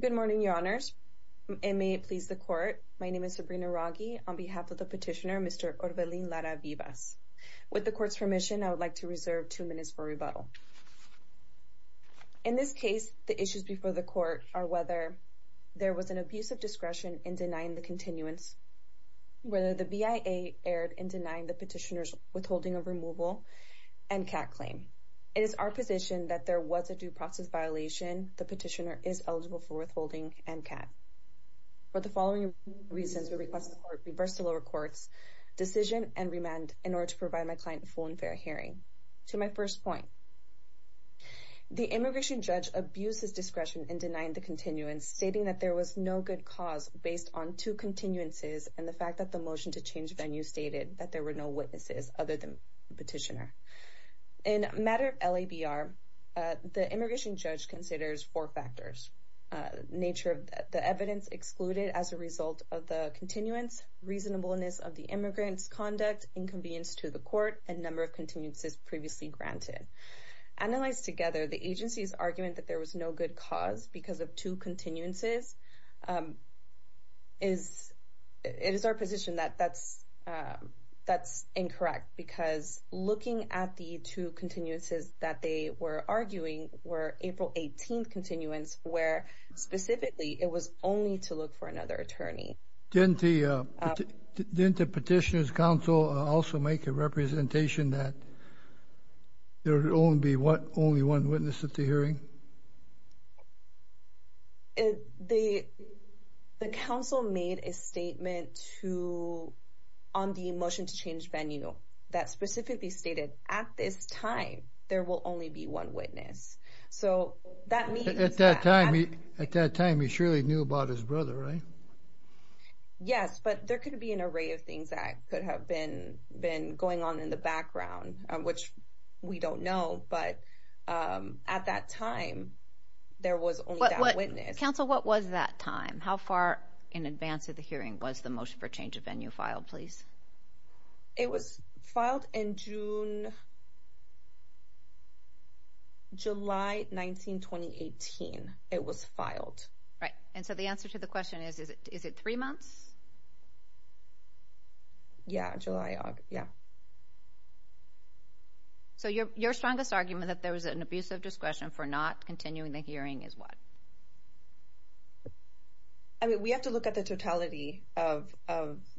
Good morning, Your Honors, and may it please the Court, my name is Sabrina Raghi, on behalf of the petitioner, Mr. Orbelín Lara-Vivas. With the Court's permission, I would like to reserve two minutes for rebuttal. In this case, the issues before the Court are whether there was an abuse of discretion in denying the continuance, whether the BIA erred in denying the petitioner's withholding of removal, and CAC claim. It is our position that there was a due process violation. The petitioner is eligible for withholding and CAC. For the following reasons, we request the Court reverse the lower court's decision and remand in order to provide my client a full and fair hearing. To my first point, the immigration judge abused his discretion in denying the continuance, stating that there was no good cause based on two continuances and the fact that the motion to change venue stated that there were no witnesses other than the petitioner. In a matter of LABR, the immigration judge considers four factors. Nature of the evidence excluded as a result of the continuance, reasonableness of the immigrant's conduct, inconvenience to the Court, and number of continuances previously granted. Analyzed together, the agency's argument that there was no good cause because of two continuances is incorrect because looking at the two continuances that they were arguing were April 18th continuance where specifically it was only to look for another attorney. Didn't the petitioner's counsel also make a representation that there would only be a change of venue that specifically stated at this time there will only be one witness? So that means... At that time he surely knew about his brother, right? Yes, but there could be an array of things that could have been going on in the background, which we don't know, but at that time there was only that witness. Counsel, what was that time? How far in advance of the hearing was the motion for change of venue filed, please? It was filed in June, July 19, 2018. It was filed. Right, and so the answer to the question is, is it three months? Yeah, July, yeah. So your strongest argument that there was an abuse of discretion for not continuing the hearing is what? I mean, we have to look at the totality of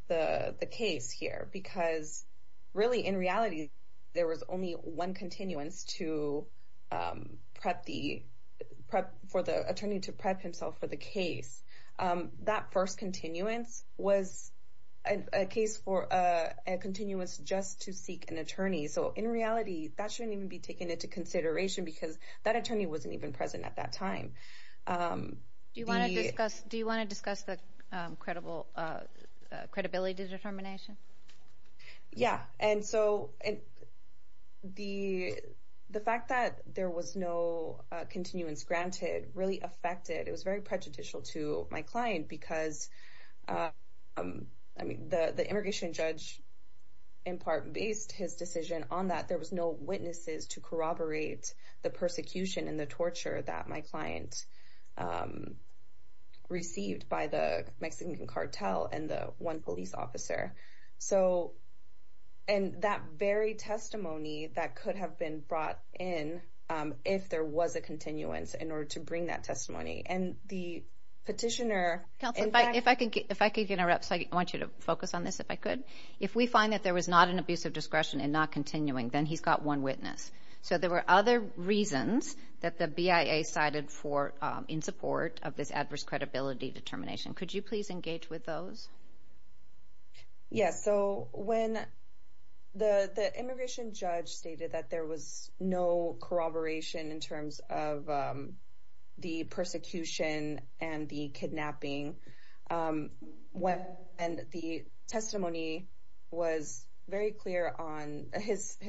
the case here because really in reality there was only one continuance for the attorney to prep himself for the case. That first continuance was a case for a continuance just to seek an attorney, so in reality that shouldn't even be taken into consideration because that attorney wasn't even present at that time. Do you want to discuss the credibility determination? Yeah, and so the fact that there was no continuance granted really affected. It was very prejudicial to my client because the immigration judge in part based his decision on that. There was no witnesses to corroborate the persecution and the torture that my client received by the Mexican cartel and the one police officer. So, and that very testimony that could have been brought in if there was a continuance in order to bring that testimony. And the petitioner- Counselor, if I could interrupt, so I want you to focus on this if I could. If we find that there was not an abuse of discretion and not continuing, then he's got one witness. So there were other reasons that the BIA cited in support of this adverse credibility determination. Could you please engage with those? Yeah, so when the immigration judge stated that there was no corroboration in terms of the persecution and the kidnapping, and the testimony was very clear on his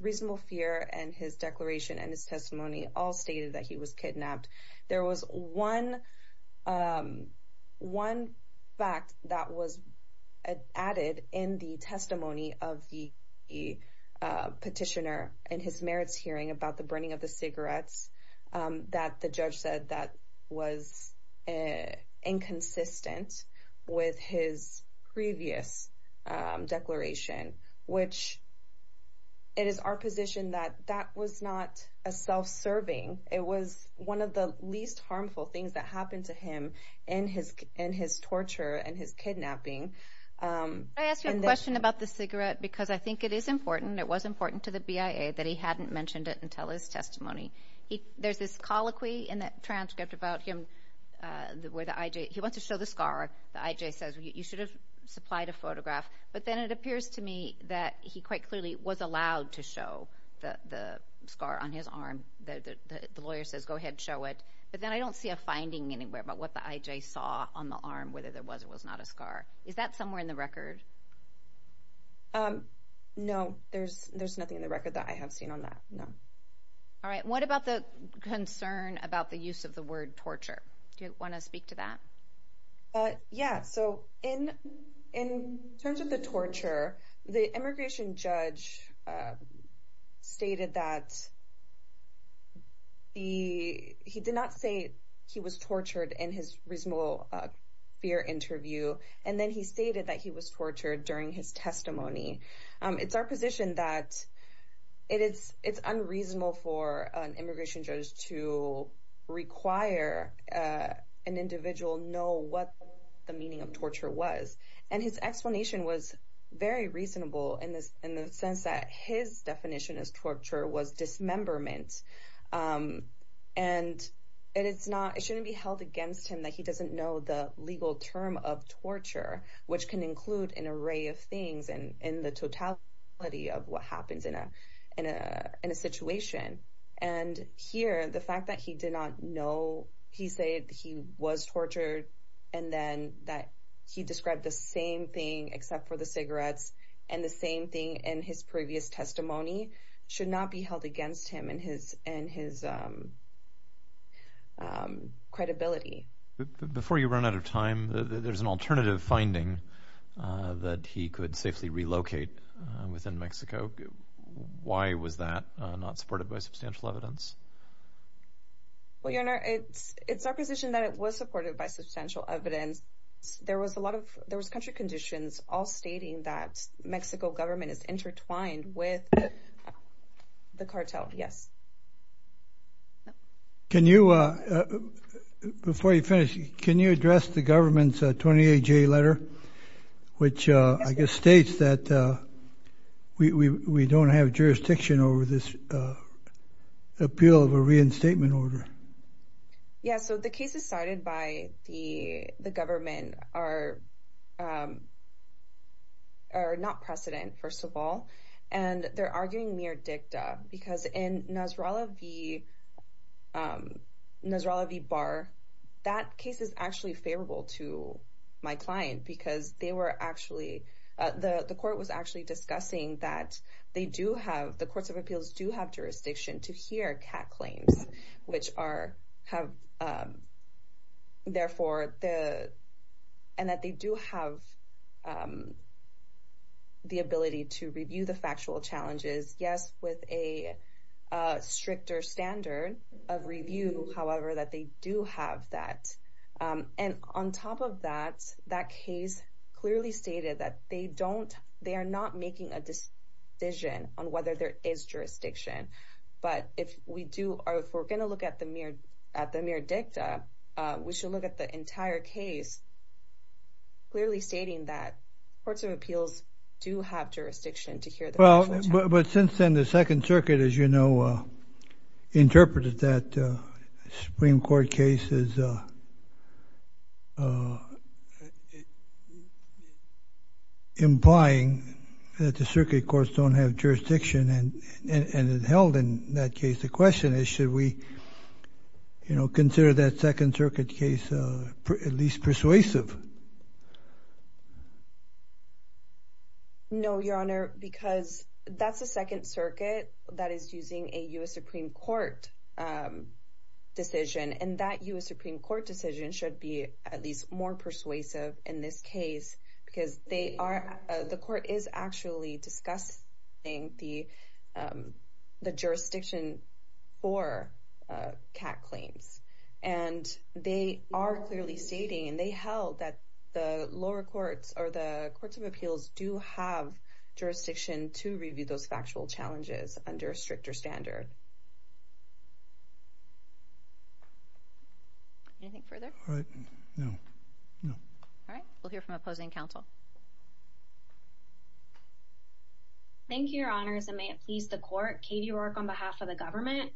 reasonable fear and his declaration and his testimony all stated that he was kidnapped. There was one fact that was added in the testimony of the petitioner in his merits hearing about the burning of the cigarettes that the judge said that was inconsistent with his previous declaration, which it is our position that that was not a self-serving. It was one of the least harmful things that happened to Because I think it is important, it was important to the BIA that he hadn't mentioned it until his testimony. There's this colloquy in that transcript about him where the IJ, he wants to show the scar. The IJ says you should have supplied a photograph. But then it appears to me that he quite clearly was allowed to show the scar on his arm. The lawyer says go ahead, show it. But then I don't see a finding anywhere about what the IJ saw on the arm, whether there was or was not a scar. Is that somewhere in the record? No, there's nothing in the record that I have seen on that, no. All right, what about the concern about the use of the word torture? Do you want to speak to that? Yeah, so in terms of the torture, the immigration judge stated that he did not say he was tortured in his reasonable fear interview. And then he stated that he was tortured during his testimony. It's our position that it's unreasonable for an immigration judge to require an individual know what the meaning of torture was. And his explanation was very reasonable in the sense that his definition of torture was dismemberment. And it's not, it shouldn't be held against him that he doesn't know the legal term of torture, which can include an array of things and the totality of what happens in a situation. And here, the fact that he did not know, he said he was tortured, and then that he described the same thing except for the cigarettes. And the same thing in his previous testimony should not be held against him and his credibility. Before you run out of time, there's an alternative finding that he could safely relocate within Mexico. Why was that not supported by substantial evidence? Well, your honor, it's our position that it was supported by substantial evidence. There was country conditions all stating that Mexico government is intertwined with the cartel. Yes. Can you, before you finish, can you address the government's 28-J letter, which I guess states that we don't have jurisdiction over this appeal of a reinstatement order? Yeah, so the cases cited by the government are not precedent, first of all. And they're arguing mere dicta because in Nasrallah v. Barr, that case is actually favorable to my client because they were actually, the court was actually discussing that they do have, the courts of appeals do have jurisdiction to hear CAC claims, which are, therefore, and that they do have the ability to review the factual challenges. Yes, with a stricter standard of review, however, that they do have that. And on top of that, that case clearly stated that they don't, they are not making a decision on whether there is jurisdiction. But if we do, if we're going to look at the mere dicta, we should look at the entire case clearly stating that courts of appeals do have jurisdiction to hear the factual challenges. But since then, the Second Circuit, as you know, interpreted that Supreme Court case as implying that the circuit courts don't have jurisdiction and it held in that case. The question is, should we, you know, consider that Second Circuit case at least persuasive? No, Your Honor, because that's the Second Circuit that is using a US Supreme Court decision. And that US Supreme Court decision should be at least more persuasive in this case, because they are, the court is actually discussing the jurisdiction for CAC claims. And they are clearly stating, and they held that the lower courts or the courts of appeals do have jurisdiction to review those factual challenges under a stricter standard. Anything further? All right, we'll hear from opposing counsel. Thank you, Your Honors, and may it please the court. Katie Rourke on behalf of the government.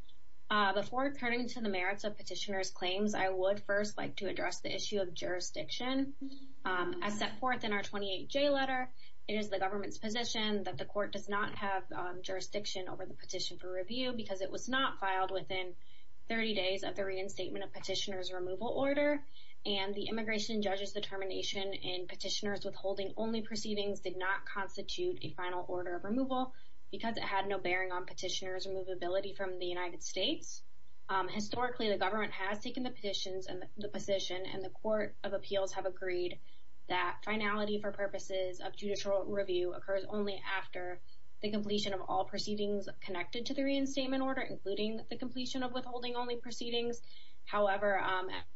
Before turning to the merits of petitioner's claims, I would first like to reiterate that we do not have jurisdiction. As set forth in our 28J letter, it is the government's position that the court does not have jurisdiction over the petition for review because it was not filed within 30 days of the reinstatement of petitioner's removal order. And the immigration judge's determination in petitioner's withholding only proceedings did not constitute a final order of removal because it had no bearing on petitioner's removability from the United States. Historically, the government has taken the position and the court of appeals have agreed that finality for purposes of judicial review occurs only after the completion of all proceedings connected to the reinstatement order, including the completion of withholding only proceedings. However,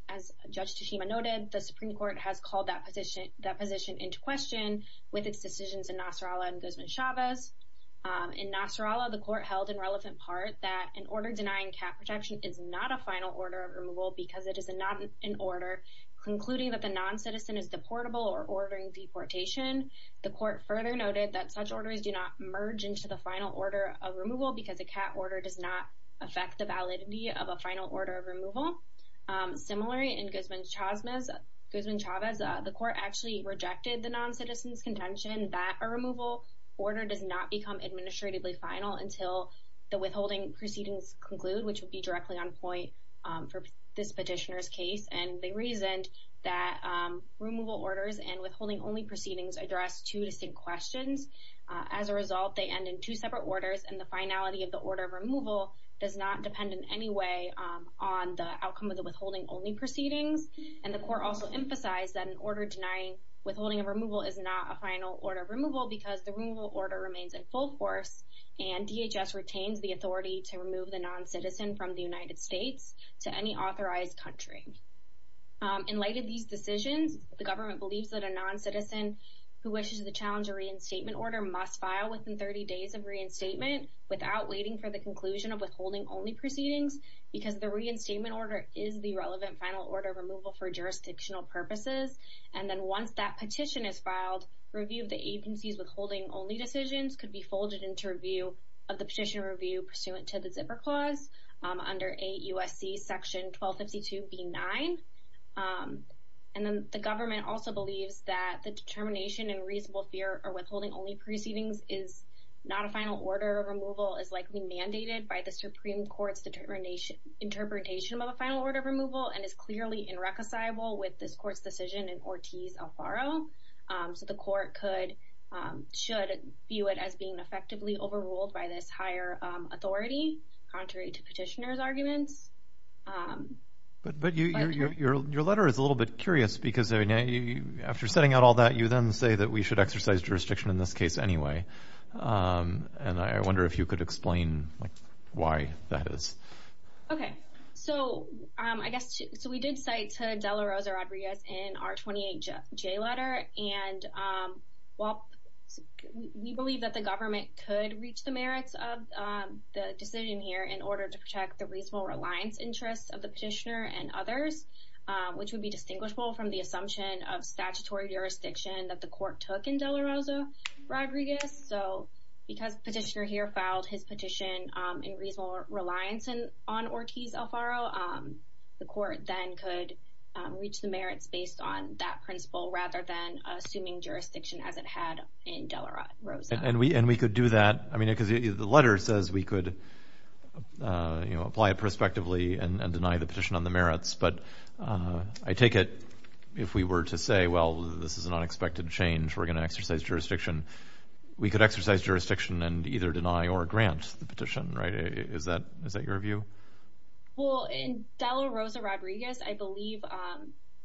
as Judge Teshima noted, the Supreme Court has called that position into question with its decisions in Nasrallah and Guzman-Chavez. In Nasrallah, the court held in relevant part that an order denying cat protection is not a final order of removal because it is not an order concluding that the non-citizen is deportable or ordering deportation. The court further noted that such orders do not merge into the final order of removal because a cat order does not affect the validity of a final order of removal. Similarly, in Guzman-Chavez, the court actually rejected the non-citizen's contention that a removal order does not become administratively final until the withholding proceedings conclude, which would be directly on point for this petitioner's case. And they reasoned that removal orders and withholding only proceedings address two distinct questions. As a result, they end in two separate orders and the finality of the order of removal does not depend in any way on the outcome of the withholding only proceedings. And the court also emphasized that an order denying withholding of removal is not a final order of removal because the removal order remains in full force and DHS retains the non-citizen from the United States to any authorized country. In light of these decisions, the government believes that a non-citizen who wishes to challenge a reinstatement order must file within 30 days of reinstatement without waiting for the conclusion of withholding only proceedings because the reinstatement order is the relevant final order of removal for jurisdictional purposes. And then once that petition is filed, review of the agency's withholding only decisions could be folded into review of the petition review pursuant to the zipper clause under 8 U.S.C. section 1252b9. And then the government also believes that the determination and reasonable fear of withholding only proceedings is not a final order of removal is likely mandated by the Supreme Court's interpretation of a final order of removal and is clearly irreconcilable with this court's decision in Ortiz-Alfaro. So the court could, should view it as being effectively overruled by this higher authority, contrary to petitioner's arguments. But your letter is a little bit curious because after setting out all that, you then say that we should exercise jurisdiction in this case anyway. And I wonder if you could explain why that is. Okay. So I guess, so we did cite to De La Rosa Rodriguez in our 28J letter. And while we believe that the government could reach the merits of the decision here in order to protect the reasonable reliance interests of the petitioner and others, which would be distinguishable from the assumption of statutory jurisdiction that the court took in De La Rosa Rodriguez. So because petitioner here filed his petition in reasonable reliance on Ortiz-Alfaro, the court then could reach the merits based on that principle rather than assuming jurisdiction as it had in De La Rosa. And we could do that. I mean, because the letter says we could apply it prospectively and deny the petition on the merits. But I take it if we were to say, well, this is an unexpected change. We're going to exercise jurisdiction. We could exercise jurisdiction and either deny or grant the petition, right? Is that your view? Well, in De La Rosa Rodriguez, I believe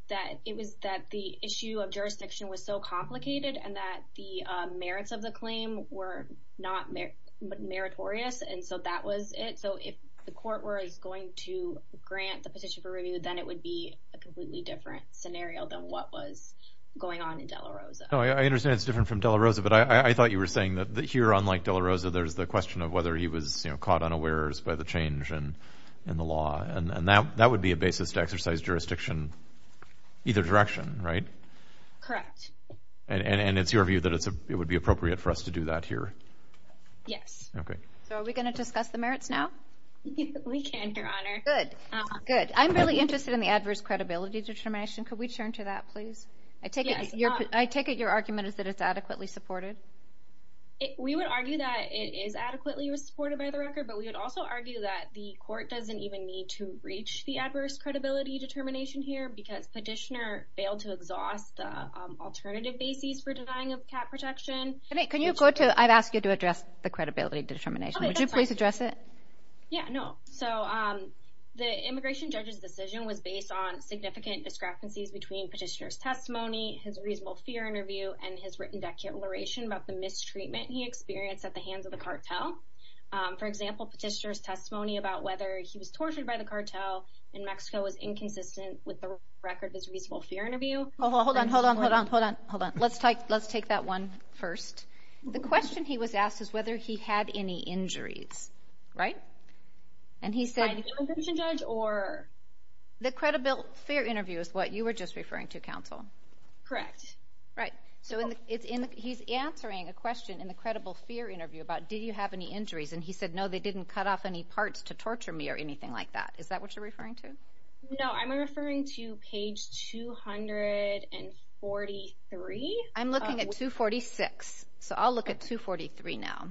that it was that the issue of jurisdiction was so complicated and that the merits of the claim were not meritorious. And so that was it. So if the court were going to grant the petition for review, then it would be a completely different scenario than what was going on in De La Rosa. I understand it's different from De La Rosa, but I thought you were saying that here, unlike De La Rosa, there's the question of whether he was caught unawares by the change in the law. And that would be a basis to exercise jurisdiction either direction, right? Correct. And it's your view that it would be appropriate for us to do that here? Yes. Okay. So are we going to discuss the merits now? We can, Your Honor. Good. Good. I'm really interested in the adverse credibility determination. Could we turn to that, please? I take it your argument is that it's adequately supported? We would argue that it is adequately supported by the record, but we would also argue that the court doesn't even need to reach the adverse credibility determination here because petitioner failed to exhaust the alternative basis for denying of cap protection. Can you go to, I've asked you to address the credibility determination. Would you please address it? Yeah. No. So the immigration judge's decision was based on significant discrepancies between petitioner's testimony, his reasonable fear interview, and his written declaration about the mistreatment he experienced at the hands of the cartel. For example, petitioner's testimony about whether he was tortured by the cartel in Mexico was inconsistent with the record of his reasonable fear interview. Hold on. Hold on. Hold on. Hold on. Hold on. Let's take that one first. The question he was asked is whether he had any injuries, right? And he said... By the immigration judge or... The credible fear interview is what you were just referring to, counsel. Correct. Right. So he's answering a question in the credible fear interview about, did you have any injuries? And he said, no, they didn't cut off any parts to torture me or anything like that. Is that what you're referring to? No. I'm referring to page 243. I'm looking at 246. So I'll look at 243 now.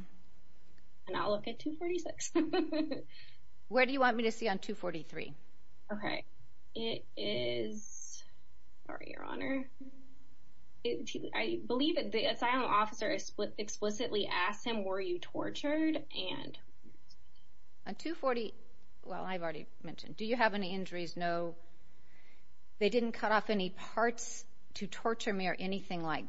And I'll look at 246. Where do you want me to see on 243? Okay. It is... Sorry, your honor. I believe that the asylum officer explicitly asked him, were you tortured? And... On 240... Well, I've already mentioned. Do you have any injuries? No. They didn't cut off any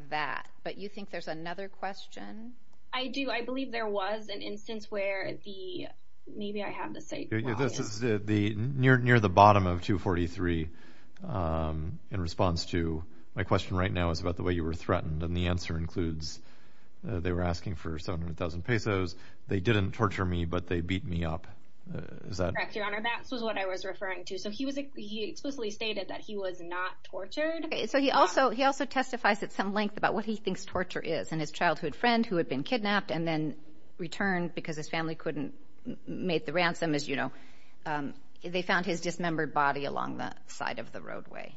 that. But you think there's another question? I do. I believe there was an instance where the... Maybe I have the site. Near the bottom of 243, in response to... My question right now is about the way you were threatened. And the answer includes, they were asking for 700,000 pesos. They didn't torture me, but they beat me up. Is that... Correct, your honor. That's what I was referring to. So he explicitly stated that he was not tortured. So he also testifies at some length about what he thinks torture is, and his childhood friend who had been kidnapped and then returned because his family couldn't make the ransom, as you know. They found his dismembered body along the side of the roadway.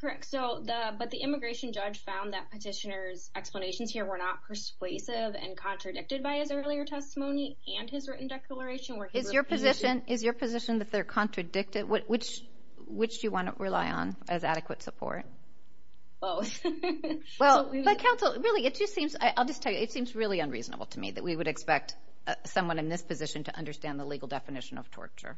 Correct. But the immigration judge found that petitioner's explanations here were not persuasive and contradicted by his earlier testimony and his written declaration where he... Is your position that they're contradicted? Which do you want to rely on as support? Both. Well, but counsel, really, it just seems... I'll just tell you, it seems really unreasonable to me that we would expect someone in this position to understand the legal definition of torture.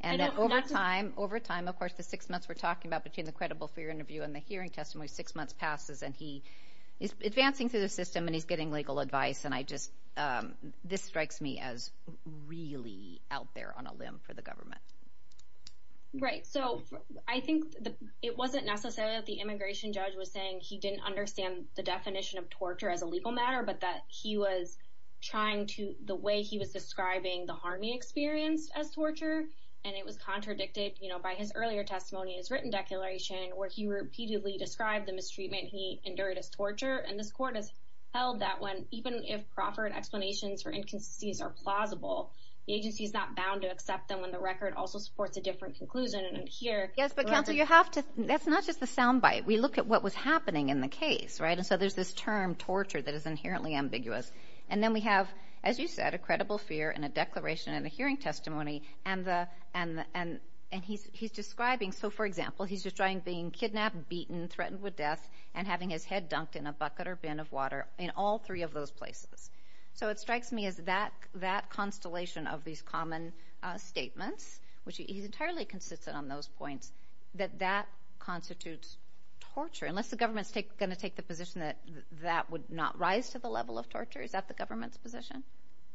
And over time, of course, the six months we're talking about between the credible fear interview and the hearing testimony, six months passes and he is advancing through the system and he's getting legal advice. And I just... This strikes me as really out there on a limb for the government. Right. So I think it wasn't necessarily that the immigration judge was saying he didn't understand the definition of torture as a legal matter, but that he was trying to... The way he was describing the harm he experienced as torture, and it was contradicted by his earlier testimony, his written declaration where he repeatedly described the mistreatment he endured as torture. And this court has held that when, even if proper explanations for inconsistencies are heard, also supports a different conclusion. And here... Yes, but counsel, you have to... That's not just the soundbite. We look at what was happening in the case, right? And so there's this term torture that is inherently ambiguous. And then we have, as you said, a credible fear and a declaration and a hearing testimony. And he's describing... So for example, he's describing being kidnapped, beaten, threatened with death and having his head dunked in a bucket or bin of water in all three of those places. So it strikes me as that constellation of these common statements. He's entirely consistent on those points, that that constitutes torture, unless the government's going to take the position that that would not rise to the level of torture. Is that the government's position?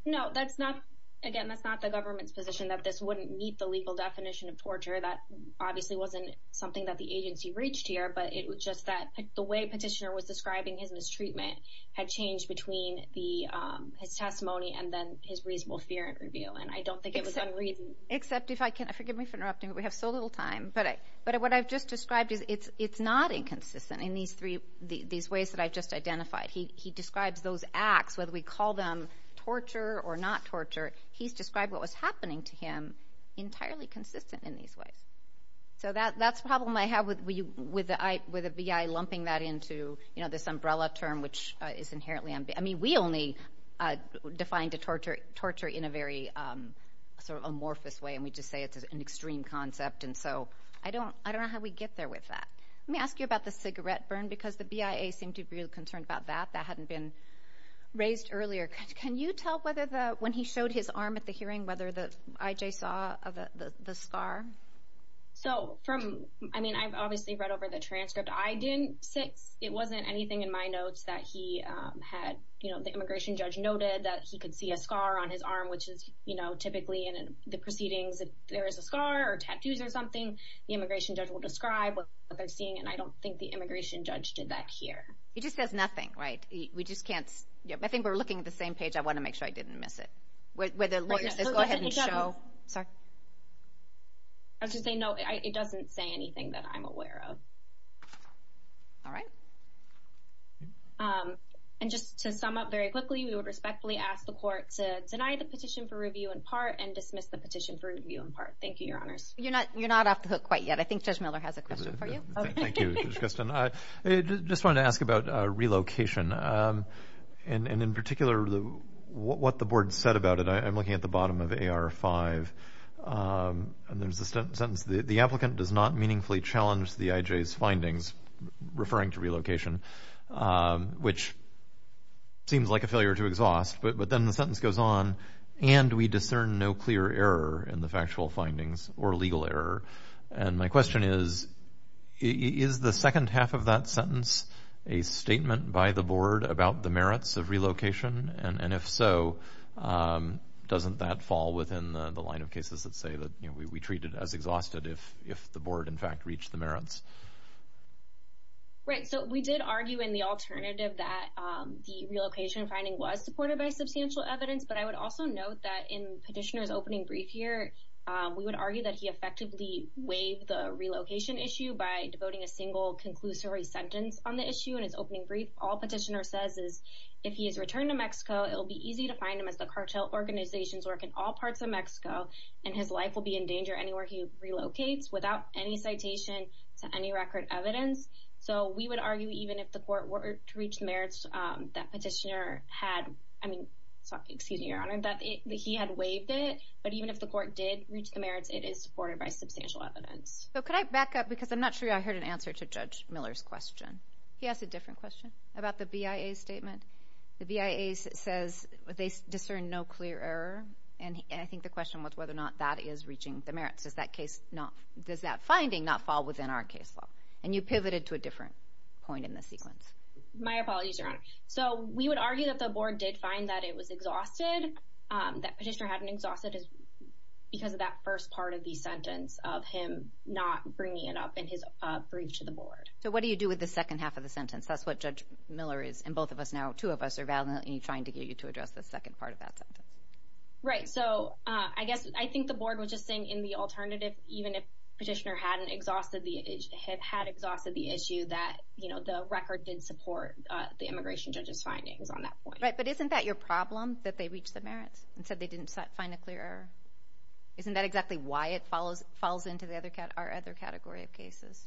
No, that's not... Again, that's not the government's position that this wouldn't meet the legal definition of torture. That obviously wasn't something that the agency reached here, but it was just that the way Petitioner was describing his mistreatment had changed between his testimony and then his reasonable fear and review. And I don't except if I can... Forgive me for interrupting, but we have so little time. But what I've just described is it's not inconsistent in these ways that I've just identified. He describes those acts, whether we call them torture or not torture, he's described what was happening to him entirely consistent in these ways. So that's the problem I have with the BI lumping that into this umbrella term, which is inherently... We only define the torture in a very amorphous way, and we just say it's an extreme concept. And so I don't know how we get there with that. Let me ask you about the cigarette burn, because the BIA seemed to be really concerned about that. That hadn't been raised earlier. Can you tell whether when he showed his arm at the hearing, whether the IJ saw the scar? So from... I mean, I've obviously read over the transcript. I didn't It wasn't anything in my notes that he had... The immigration judge noted that he could see a scar on his arm, which is typically in the proceedings. If there is a scar or tattoos or something, the immigration judge will describe what they're seeing. And I don't think the immigration judge did that here. It just says nothing, right? We just can't... I think we're looking at the same page. I want to make sure I didn't miss it. Where the lawyer says, go ahead and show... I was just saying, no, it doesn't say anything that I'm aware of. All right. And just to sum up very quickly, we would respectfully ask the court to deny the petition for review in part and dismiss the petition for review in part. Thank you, Your Honors. You're not off the hook quite yet. I think Judge Miller has a question for you. Thank you, Judge Gustin. I just wanted to ask about relocation. And in particular, what the board said about it. I'm looking at the bottom of AR5. And there's a sentence, the applicant does not meaningfully challenge the IJ's findings, referring to relocation, which seems like a failure to exhaust. But then the sentence goes on, and we discern no clear error in the factual findings or legal error. And my question is, is the second half of that sentence a statement by the board about the merits of relocation? And if so, doesn't that fall within the line of cases that say that we treat it as exhausted if the board, in fact, reached the merits? Right. So we did argue in the alternative that the relocation finding was supported by substantial evidence. But I would also note that petitioner's opening brief here, we would argue that he effectively waived the relocation issue by devoting a single conclusory sentence on the issue in his opening brief. All petitioner says is if he has returned to Mexico, it will be easy to find him as the cartel organizations work in all parts of Mexico, and his life will be in danger anywhere he relocates without any citation to any record evidence. So we would argue even if the court were to reach the merits that petitioner had, I mean, excuse me, your honor, that he had waived it. But even if the court did reach the merits, it is supported by substantial evidence. So could I back up because I'm not sure I heard an answer to Judge Miller's question. He has a different question about the BIA statement. The BIA says they discern no clear error. And I think the question was whether or not that is reaching the merits. Does that case not, does that finding not fall within our case law? And you pivoted to a different point in the sequence. My apologies, your honor. So we would argue that the board did find that it was exhausted, that petitioner hadn't exhausted because of that first part of the sentence of him not bringing it up in his brief to the board. So what do you do with the second half of the sentence? That's what Judge Miller is, and both of us now, two of us are validly trying to get you to address the second part of that sentence. Right. So I guess I think the board was just saying in the alternative, even if it had exhausted the issue that, you know, the record did support the immigration judge's findings on that point. Right. But isn't that your problem, that they reached the merits and said they didn't find a clear error? Isn't that exactly why it follows, falls into the other category of cases?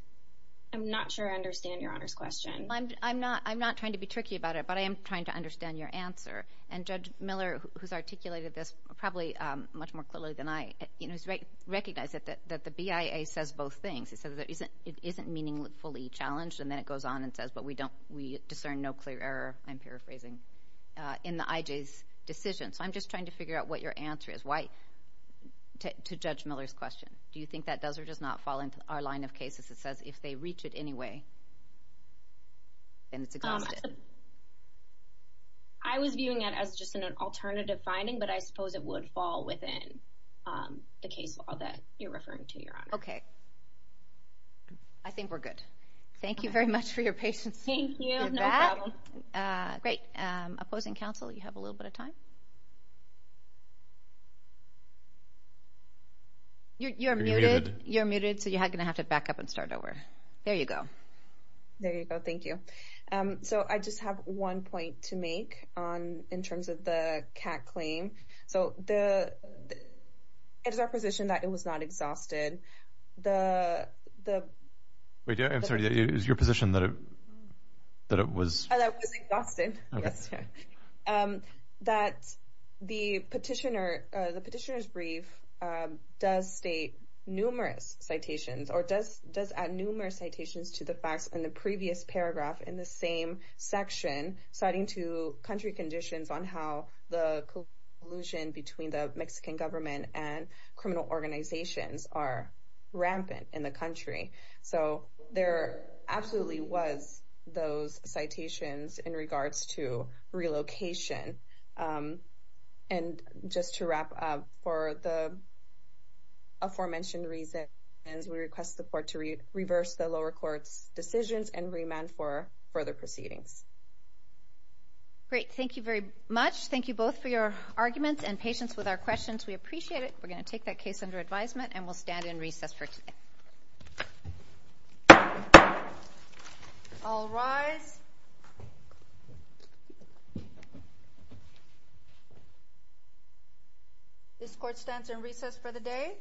I'm not sure I understand your honor's question. I'm not, I'm not trying to be tricky about it, but I am trying to understand your answer. And Judge Miller, who's articulated this probably much more clearly than I, you know, is right. Recognize it, that the BIA says both things. So that isn't, it isn't meaningfully challenged. And then it goes on and says, but we don't, we discern no clear error. I'm paraphrasing in the IJ's decision. So I'm just trying to figure out what your answer is. Why to Judge Miller's question, do you think that does or does not fall into our line of cases? It says if they reach it anyway, then it's exhausted. I was viewing it as just an alternative finding, but I suppose it would fall within the case law that you're referring to, your honor. Okay. I think we're good. Thank you very much for your patience. Thank you, no problem. Great. Opposing counsel, you have a little bit of time. You're muted. You're muted, so you're going to have to back up and start over. There you go. There you go. Thank you. So I just have one point to make on, in terms of the CAC claim. So it is our position that it was not exhausted. Wait, I'm sorry. It is your position that it was? That it was exhausted. Yes. That the petitioner's brief does state numerous citations or does add numerous citations to the facts in the previous paragraph in the same section citing to country conditions on how the collusion between the Mexican government and criminal organizations are rampant in the country. So there absolutely was those citations in regards to relocation. And just to wrap up for the aforementioned reasons, we request the court to reverse the lower court's decisions and remand for further proceedings. Great. Thank you very much. Thank you both for your arguments and patience with our questions. We appreciate it. We're going to take that case under advisement and we'll stand in recess for today. All rise. This court stands in recess for the day.